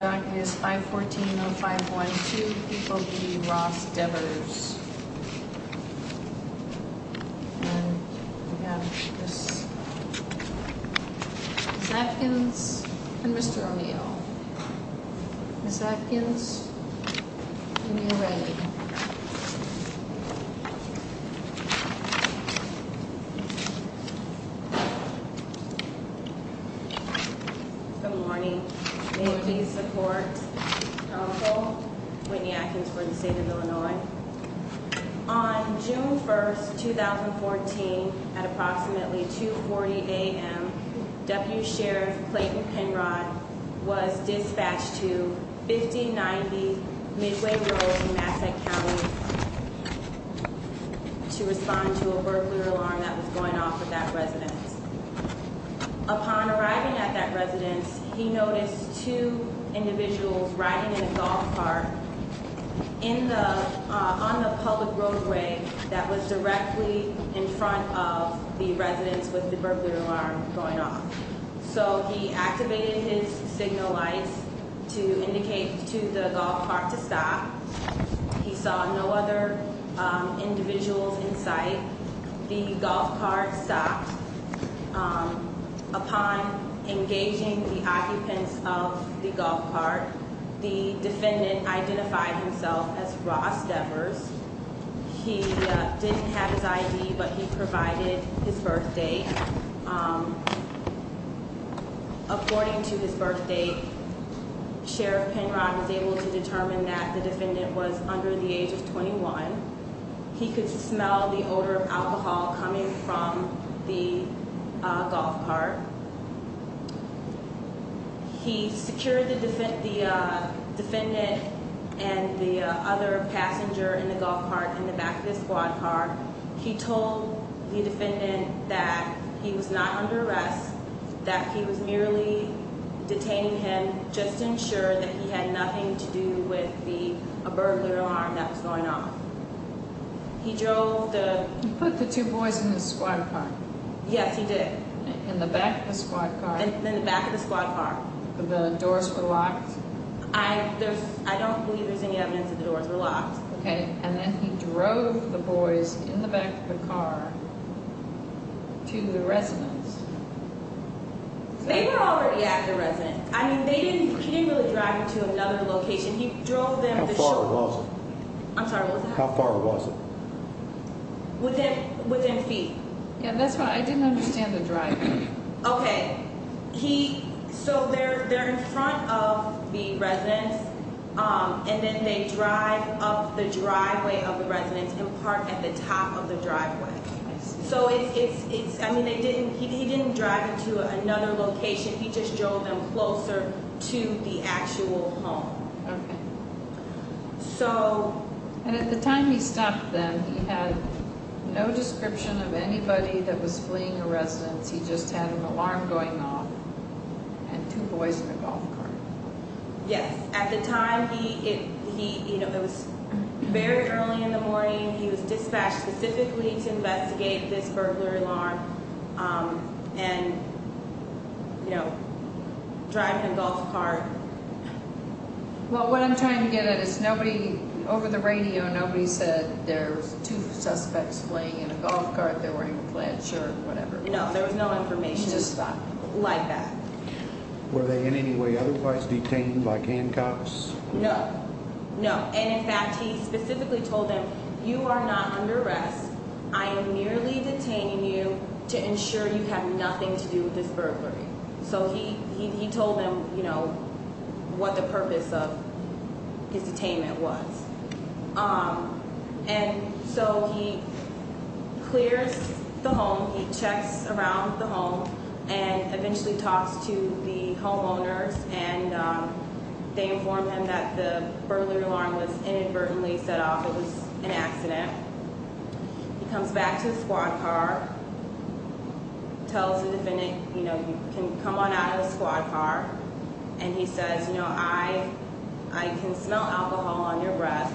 That is 514-0512. People v. Ross Devers. Ms. Atkins and Mr. O'Neill. Ms. Atkins, when you're ready. Good morning. May it please the court, counsel, Whitney Atkins for the State of Illinois. On June 1, 2014, at approximately 2.40 a.m., W. Sheriff Clayton Penrod was dispatched to 5090 Midway Road in Massac County to respond to a burglar alarm that was going off at that residence. Upon arriving at that residence, he noticed two individuals riding in a golf cart on the public roadway that was directly in front of the residence with the burglar alarm going off. So he activated his signal lights to indicate to the golf cart to stop. He saw no other individuals in sight. The golf cart stopped. Upon engaging the occupants of the golf cart, the defendant identified himself as Ross Devers. He didn't have his ID, but he provided his birth date. According to his birth date, Sheriff Penrod was able to determine that the defendant was under the age of 21. He could smell the odor of alcohol coming from the golf cart. He secured the defendant and the other passenger in the golf cart in the back of his quad car. He told the defendant that he was not under arrest, that he was merely detaining him just to ensure that he had nothing to do with the burglar alarm that was going off. He drove the... He put the two boys in the squad car? Yes, he did. In the back of the squad car? In the back of the squad car. The doors were locked? I don't believe there's any evidence that the doors were locked. Okay, and then he drove the boys in the back of the car to the residence. They were already at the residence. I mean, he didn't really drive them to another location. He drove them to... How far was it? I'm sorry, what was it? How far was it? Within feet. Yeah, that's why I didn't understand the driving. Okay, so they're in front of the residence, and then they drive up the driveway of the residence and park at the top of the driveway. I mean, he didn't drive them to another location. He just drove them closer to the actual home. Okay. So... And at the time he stopped then, he had no description of anybody that was fleeing the residence. He just had an alarm going off and two boys in a golf cart. Yes. At the time, it was very early in the morning. He was dispatched specifically to investigate this burglary alarm and drive the golf cart. Well, what I'm trying to get at is nobody, over the radio, nobody said there's two suspects fleeing in a golf cart. They're wearing a plaid shirt, whatever. No, there was no information. Just like that. Were they in any way otherwise detained by handcuffs? No. No. And in fact, he specifically told them, you are not under arrest. I am merely detaining you to ensure you have nothing to do with this burglary. So he told them, you know, what the purpose of his detainment was. And so he clears the home. He checks around the home and eventually talks to the homeowners and they inform him that the burglary alarm was inadvertently set off. It was an accident. He comes back to the squad car, tells the defendant, you know, you can come on out of the squad car. And he says, you know, I can smell alcohol on your breath.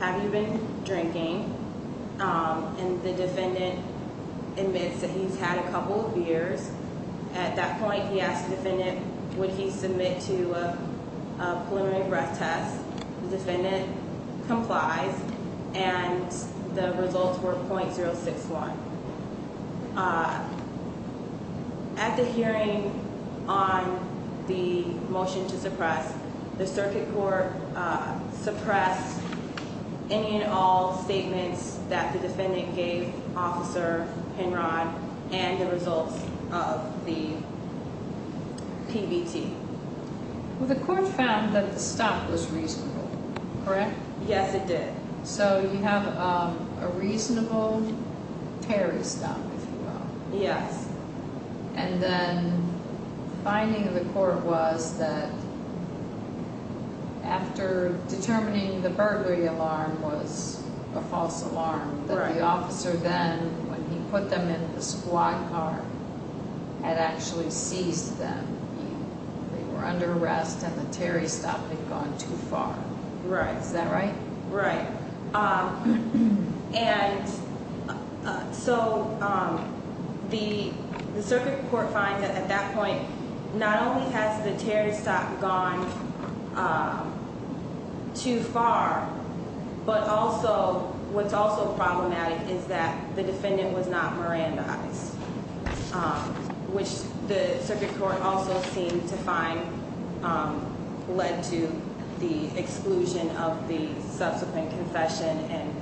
Have you been drinking? And the defendant admits that he's had a couple of beers. At that point, he asked the defendant, would he submit to a preliminary breath test? The defendant complies and the results were .061. At the hearing on the motion to suppress, the circuit court suppressed any and all statements that the defendant gave Officer Penrod and the results of the PBT. Well, the court found that the stop was reasonable, correct? Yes, it did. So you have a reasonable tarry stop, if you will. Yes. And then the finding of the court was that after determining the burglary alarm was a false alarm, the officer then, when he put them in the squad car, had actually seized them. They were under arrest and the tarry stop had gone too far. Is that right? Right. And so the circuit court finds that at that point, not only has the tarry stop gone too far, but also what's also problematic is that the defendant was not Mirandized, which the circuit court also seemed to find led to the exclusion of the subsequent confession and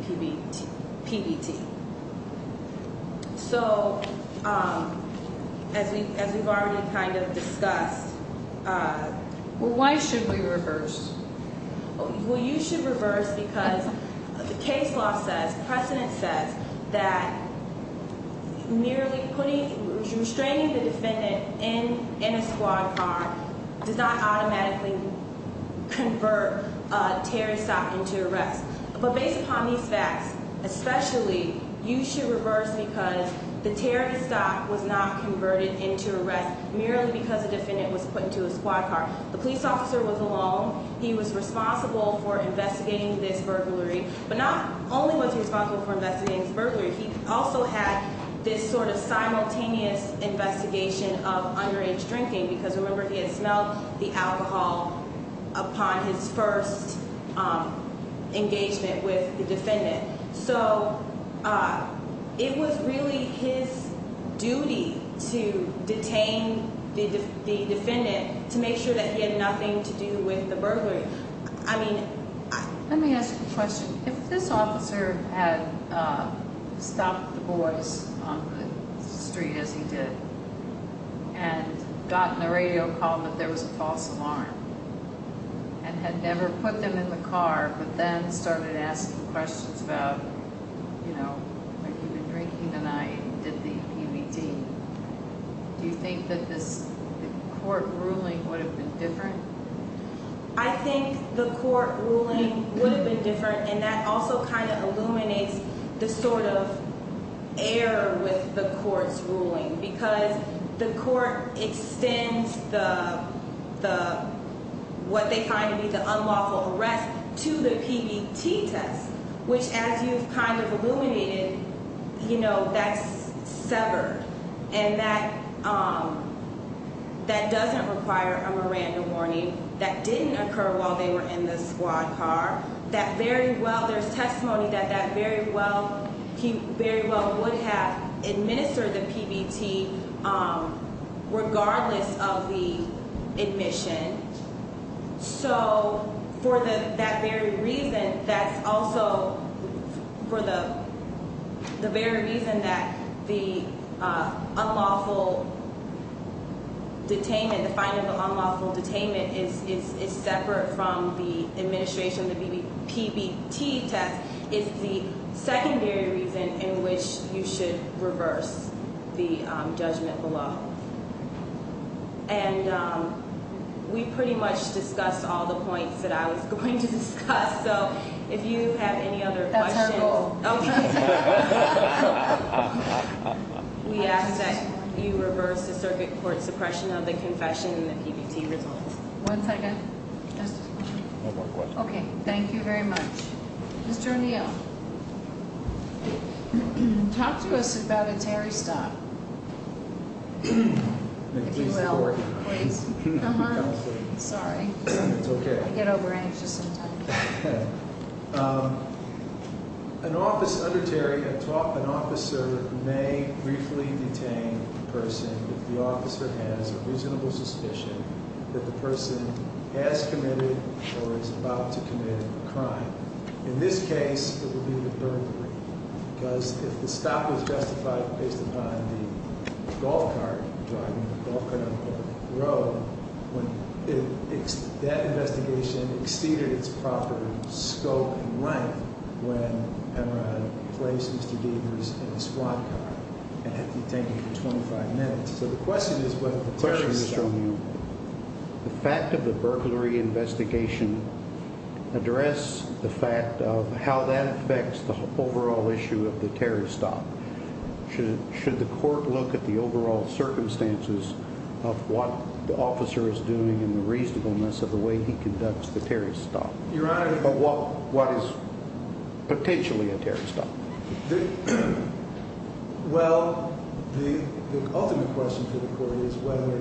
PBT. So, as we've already kind of discussed... Well, why should we reverse? Well, you should reverse because the case law says, precedent says, that merely restraining the defendant in a squad car does not automatically convert a tarry stop into arrest. But based upon these facts, especially, you should reverse because the tarry stop was not converted into arrest merely because the defendant was put into a squad car. The police officer was alone. He was responsible for investigating this burglary. But not only was he responsible for investigating this burglary, he also had this sort of simultaneous investigation of underage drinking because, remember, he had smelled the alcohol upon his first engagement with the defendant. So, it was really his duty to detain the defendant to make sure that he had nothing to do with the burglary. Let me ask you a question. If this officer had stopped the boys on the street, as he did, and gotten a radio call that there was a false alarm, and had never put them in the car, but then started asking questions about, you know, have you been drinking tonight, did the PBT, do you think that this court ruling would have been different? I think the court ruling would have been different, and that also kind of illuminates the sort of error with the court's ruling because the court extends what they find to be the unlawful arrest to the PBT test, which as you've kind of illuminated, you know, that's severed. And that doesn't require a Miranda warning. That didn't occur while they were in the squad car. There's testimony that he very well would have administered the PBT regardless of the admission. So, for that very reason, that's also for the very reason that the unlawful detainment, the finding of the unlawful detainment is separate from the administration of the PBT test, is the secondary reason in which you should reverse the judgment below. And we pretty much discussed all the points that I was going to discuss, so if you have any other questions. That's our goal. Okay. We ask that you reverse the circuit court suppression of the confession and the PBT results. One second. One more question. Okay, thank you very much. Mr. O'Neill, talk to us about a Terry stop. If you will. Sorry. It's okay. I get over-anxious sometimes. An officer under Terry, an officer may briefly detain a person if the officer has a reasonable suspicion that the person has committed or is about to commit a crime. In this case, it would be the burglary. Because if the stop is justified based upon the golf cart, driving the golf cart on the public road, that investigation exceeded its proper scope and length when Emeron placed Mr. Degers in the squad car and had to detain him for 25 minutes. Mr. O'Neill, the fact of the burglary investigation address the fact of how that affects the overall issue of the Terry stop. Should the court look at the overall circumstances of what the officer is doing and the reasonableness of the way he conducts the Terry stop? Your Honor. What is potentially a Terry stop? Well, the ultimate question for the court is whether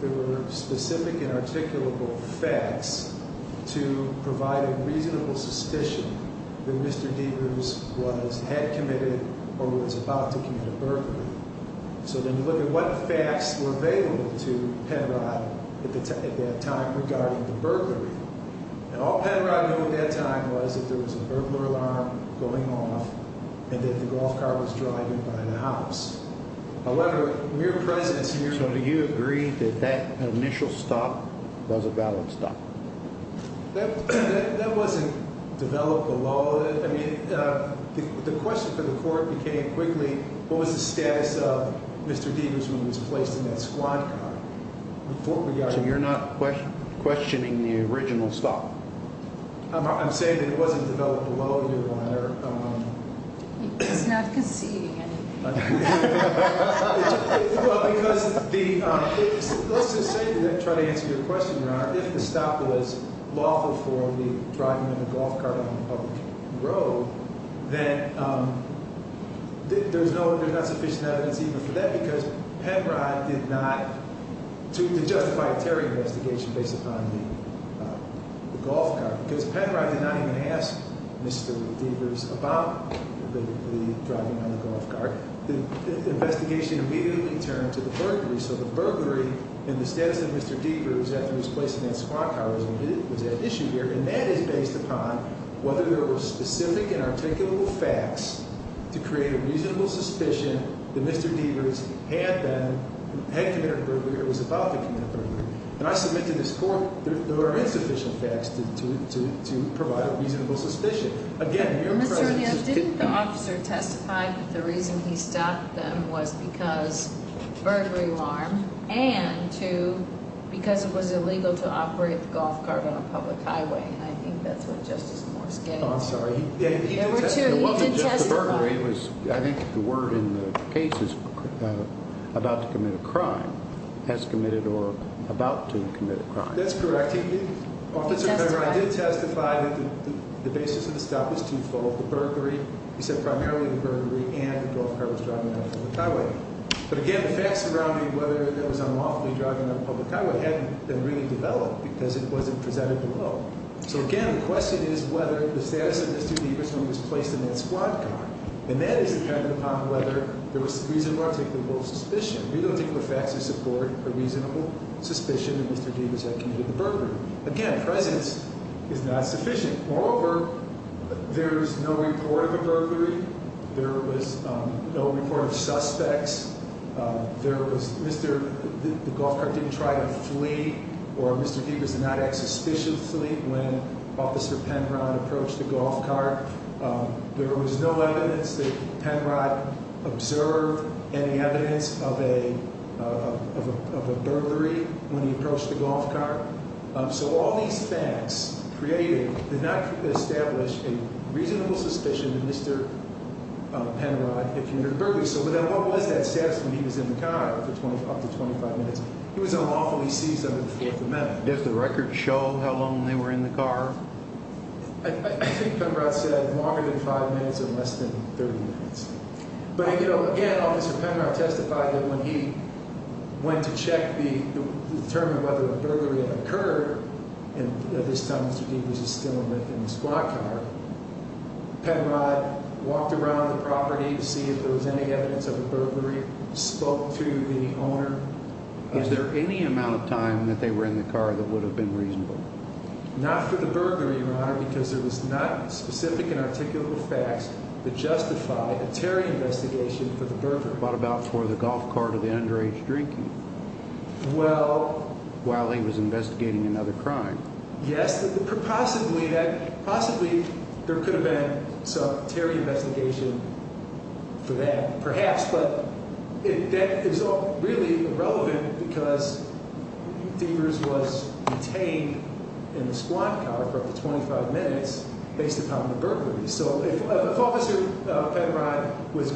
there were specific and articulable facts to provide a reasonable suspicion that Mr. Degers had committed or was about to commit a burglary. So then you look at what facts were available to Penrod at that time regarding the burglary. And all Penrod knew at that time was that there was a burglar alarm going off and that the golf cart was driving by the house. However, mere presence here. So do you agree that that initial stop was a valid stop? That wasn't developed below it. I mean, the question for the court became quickly, what was the status of Mr. Degers when he was placed in that squad car? So you're not questioning the original stop? I'm saying that it wasn't developed below it, Your Honor. He's not conceding anything. Let's just say, to try to answer your question, Your Honor, if the stop was lawful for him to be driving in a golf cart on a public road, then there's not sufficient evidence even for that because Penrod did not, to justify a Terry investigation based upon the golf cart, because Penrod did not even ask Mr. Degers about the driving on the golf cart. The investigation immediately turned to the burglary. So the burglary and the status of Mr. Degers after he was placed in that squad car was at issue here. And that is based upon whether there were specific and articulable facts to create a reasonable suspicion that Mr. Degers had committed a burglary or was about to commit a burglary. And I submit to this court there are insufficient facts to provide a reasonable suspicion. Didn't the officer testify that the reason he stopped them was because burglary alarm and because it was illegal to operate the golf cart on a public highway? And I think that's what Justice Moore is getting at. I'm sorry. He did testify. I think the word in the case is about to commit a crime, has committed or about to commit a crime. That's correct. I did testify that the basis of the stop was twofold. The burglary, he said primarily the burglary and the golf cart was driving on a public highway. But again, the facts surrounding whether it was unlawfully driving on a public highway hadn't been really developed because it wasn't presented below. So again, the question is whether the status of Mr. Degers when he was placed in that squad car. And that is dependent upon whether there was reasonable or articulable suspicion. We don't think the facts support a reasonable suspicion that Mr. Degers had committed the burglary. Again, presence is not sufficient. Moreover, there is no report of a burglary. There was no report of suspects. There was Mr. The golf cart didn't try to flee or Mr. Degers did not act suspiciously when Officer Penrod approached the golf cart. There was no evidence that Penrod observed any evidence of a burglary when he approached the golf cart. So all these facts created did not establish a reasonable suspicion that Mr. Penrod had committed a burglary. So what was that status when he was in the car for up to 25 minutes? He was unlawfully seized under the Fourth Amendment. Does the record show how long they were in the car? I think Penrod said longer than five minutes or less than 30 minutes. But, you know, again, Officer Penrod testified that when he went to check to determine whether a burglary had occurred, and at this time Mr. Degers was still in the squad car, Penrod walked around the property to see if there was any evidence of a burglary, spoke to the owner. Was there any amount of time that they were in the car that would have been reasonable? Not for the burglary, Your Honor, because there was not specific and articulable facts that justify a Terry investigation for the burglary. What about for the golf cart or the underage drinking while he was investigating another crime? Yes, possibly there could have been some Terry investigation for that, perhaps, but that is really irrelevant because Degers was detained in the squad car for up to 25 minutes based upon the burglary. So if Officer Penrod was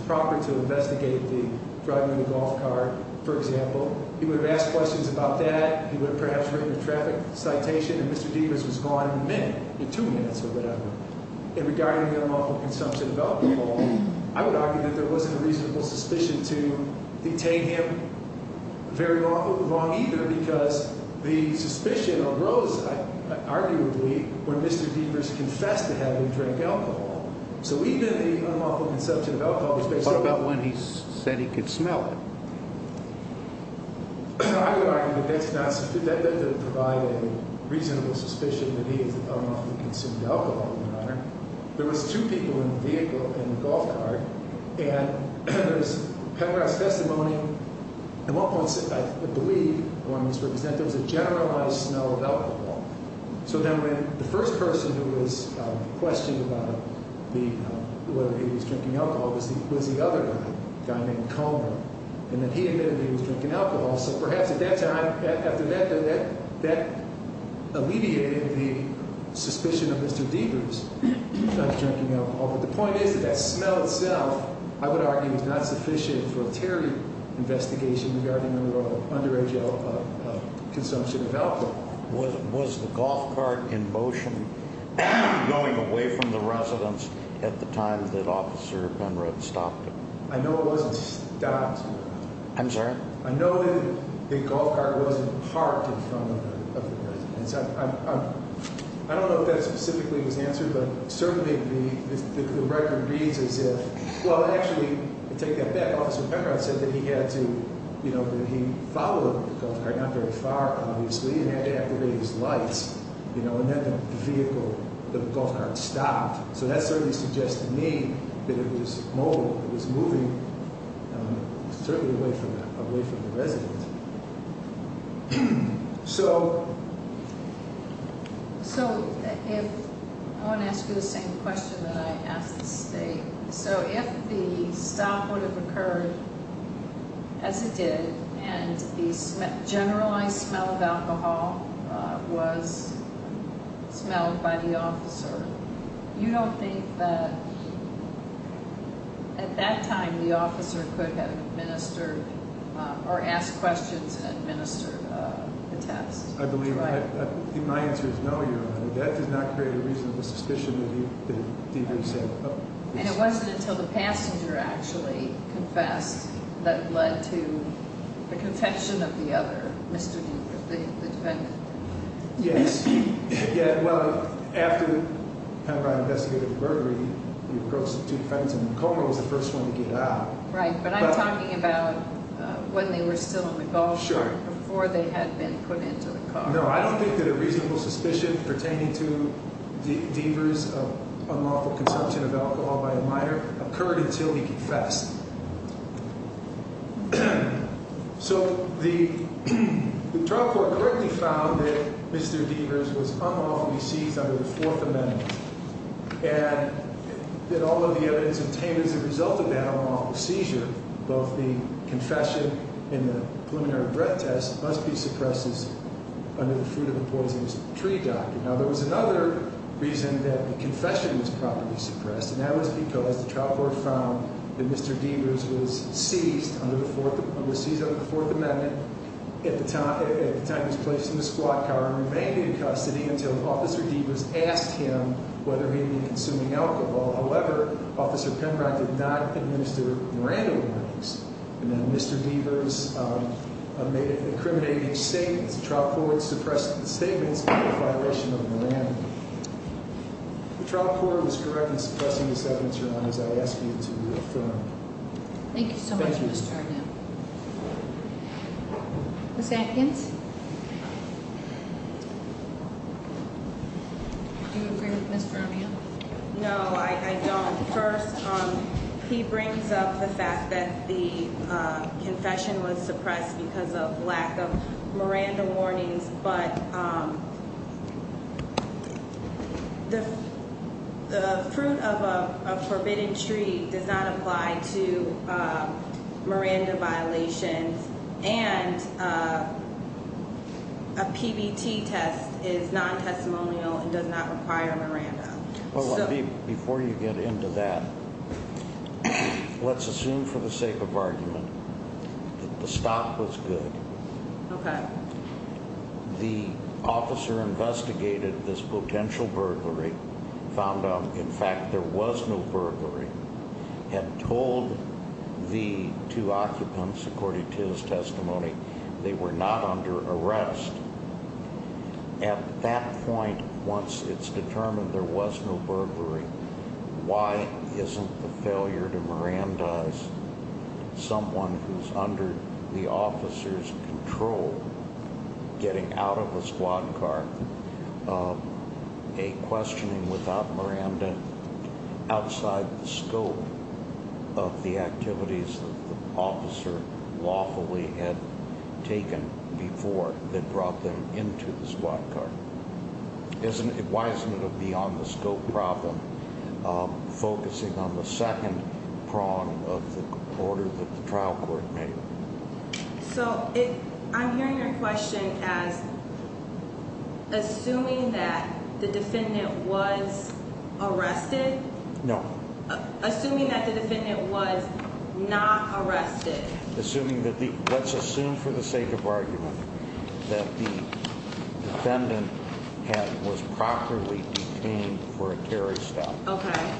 proper to investigate the driving of the golf cart, for example, he would have asked questions about that. He would have perhaps written a traffic citation, and Mr. Degers was gone in a minute, two minutes or whatever. And regarding the unlawful consumption of alcohol, I would argue that there wasn't a reasonable suspicion to detain him very long either because the suspicion arose, arguably, when Mr. Degers confessed to having drank alcohol. So even the unlawful consumption of alcohol was based upon… What about when he said he could smell it? I would argue that that doesn't provide a reasonable suspicion that he is unlawfully consumed alcohol, Your Honor. There was two people in the vehicle, in the golf cart, and there's Penrod's testimony. At one point, I believe, I want to misrepresent, there was a generalized smell of alcohol. So then when the first person who was questioned about whether he was drinking alcohol was the other guy, a guy named Comer, and that he admitted he was drinking alcohol. So perhaps at that time, after that, that alleviated the suspicion of Mr. Degers of drinking alcohol. But the point is that that smell itself, I would argue, is not sufficient for a terror investigation regarding the underage consumption of alcohol. Was the golf cart in motion going away from the residence at the time that Officer Penrod stopped it? I know it wasn't stopped. I'm sorry? I know that the golf cart wasn't parked in front of the residence. I don't know if that specifically was answered, but certainly the record reads as if… Well, actually, to take that back, Officer Penrod said that he had to, you know, that he followed the golf cart not very far, obviously, and had to activate his lights. You know, and then the vehicle, the golf cart stopped. So that certainly suggests to me that it was mobile, it was moving, certainly away from the residence. So… So if – I want to ask you the same question that I asked the State. So if the stop would have occurred as it did and the generalized smell of alcohol was smelled by the officer, you don't think that at that time the officer could have administered or asked questions and administered the test? I believe my answer is no, Your Honor. And it wasn't until the passenger actually confessed that led to the contention of the other, the defendant? Yes. Yeah, well, after Penrod investigated the murder, he approached the two defendants, and the co-owner was the first one to get out. Right, but I'm talking about when they were still in the golf cart before they had been put into the car. No, I don't think that a reasonable suspicion pertaining to Deavers' unlawful consumption of alcohol by a minor occurred until he confessed. So the trial court quickly found that Mr. Deavers was unlawfully seized under the Fourth Amendment, and that all of the evidence obtained as a result of that unlawful seizure, both the confession and the preliminary breath test, must be suppressed under the Fruit of the Poisonous Tree Doctrine. Now, there was another reason that the confession was properly suppressed, and that was because the trial court found that Mr. Deavers was seized under the Fourth Amendment at the time he was placed in the squad car and remained in custody until Officer Deavers asked him whether he had been consuming alcohol. However, Officer Penrod did not administer Miranda warnings, and then Mr. Deavers made an incriminating statement. The trial court suppressed the statements in violation of Miranda. The trial court was correct in suppressing this evidence, Your Honor, as I ask you to reaffirm. Thank you so much, Mr. Arden. Thank you. Ms. Atkins? Do you agree with Ms. Romeo? No, I don't. First, he brings up the fact that the confession was suppressed because of lack of Miranda warnings, but the fruit of a forbidden tree does not apply to Miranda violations, and a PBT test is non-testimonial and does not require Miranda. Before you get into that, let's assume for the sake of argument that the stop was good. Okay. The officer investigated this potential burglary, found out, in fact, there was no burglary, and told the two occupants, according to his testimony, they were not under arrest. At that point, once it's determined there was no burglary, why isn't the failure to Mirandize someone who's under the officer's control getting out of a squad car a questioning without Miranda outside the scope of the activities that the officer lawfully had taken before? That brought them into the squad car. Why isn't it a beyond-the-scope problem, focusing on the second prong of the order that the trial court made? So, I'm hearing your question as assuming that the defendant was arrested? No. Assuming that the defendant was not arrested. Let's assume for the sake of argument that the defendant was properly detained for a Terry stop. Okay.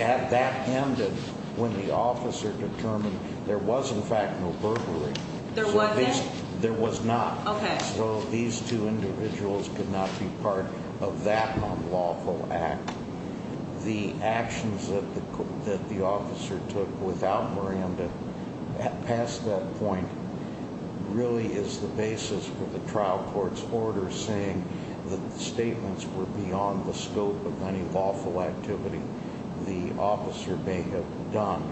At that end, when the officer determined there was, in fact, no burglary. There wasn't? There was not. Okay. So, these two individuals could not be part of that unlawful act. The actions that the officer took without Miranda past that point really is the basis for the trial court's order saying that the statements were beyond the scope of any lawful activity the officer may have done.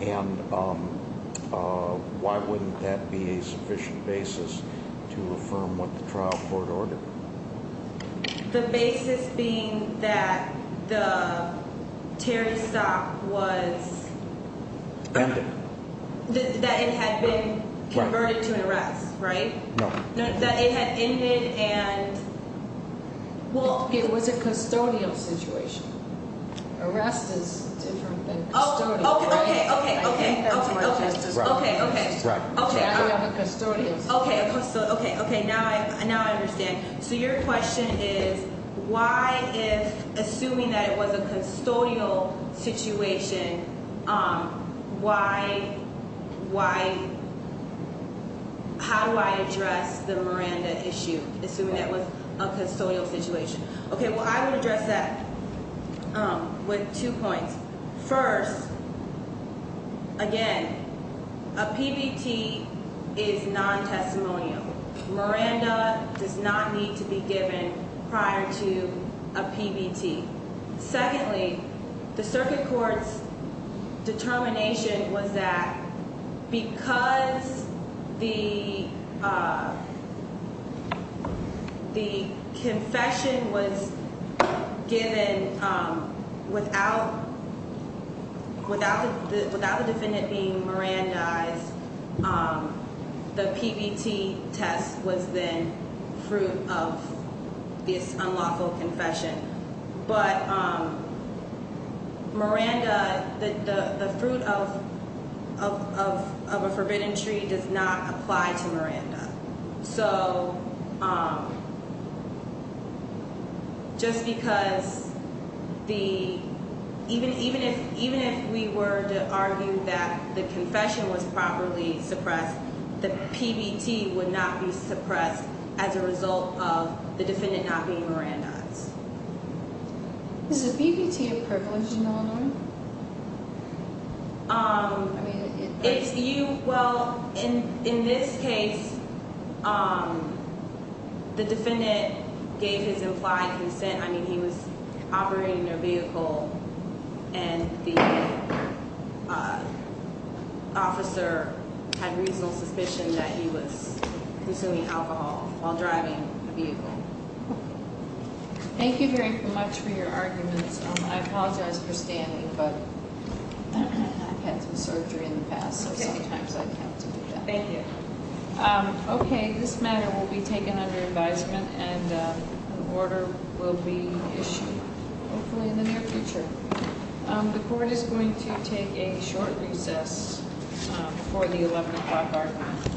And why wouldn't that be a sufficient basis to affirm what the trial court ordered? The basis being that the Terry stop was... Ended. That it had been converted to an arrest, right? No. That it had ended and... Well, it was a custodial situation. Arrest is different than custodial. Oh, okay, okay, okay, okay. I think that's more justice. Okay, okay. Right. I have a custodial situation. Okay, now I understand. So, your question is, why if, assuming that it was a custodial situation, why... How do I address the Miranda issue, assuming that was a custodial situation? Okay, well, I would address that with two points. First, again, a PBT is non-testimonial. Miranda does not need to be given prior to a PBT. Secondly, the circuit court's determination was that because the confession was given without the defendant being Mirandized, the PBT test was then fruit of this unlawful confession. But Miranda, the fruit of a forbidden tree does not apply to Miranda. So, just because the... Is a PBT a privilege in Illinois? If you... well, in this case, the defendant gave his implied consent. I mean, he was operating their vehicle, and the officer had reasonable suspicion that he was consuming alcohol while driving the vehicle. Thank you very much for your arguments. I apologize for standing, but I've had some surgery in the past, so sometimes I have to do that. Thank you. Okay, this matter will be taken under advisement, and an order will be issued, hopefully in the near future. The court is going to take a short recess before the 11 o'clock argument.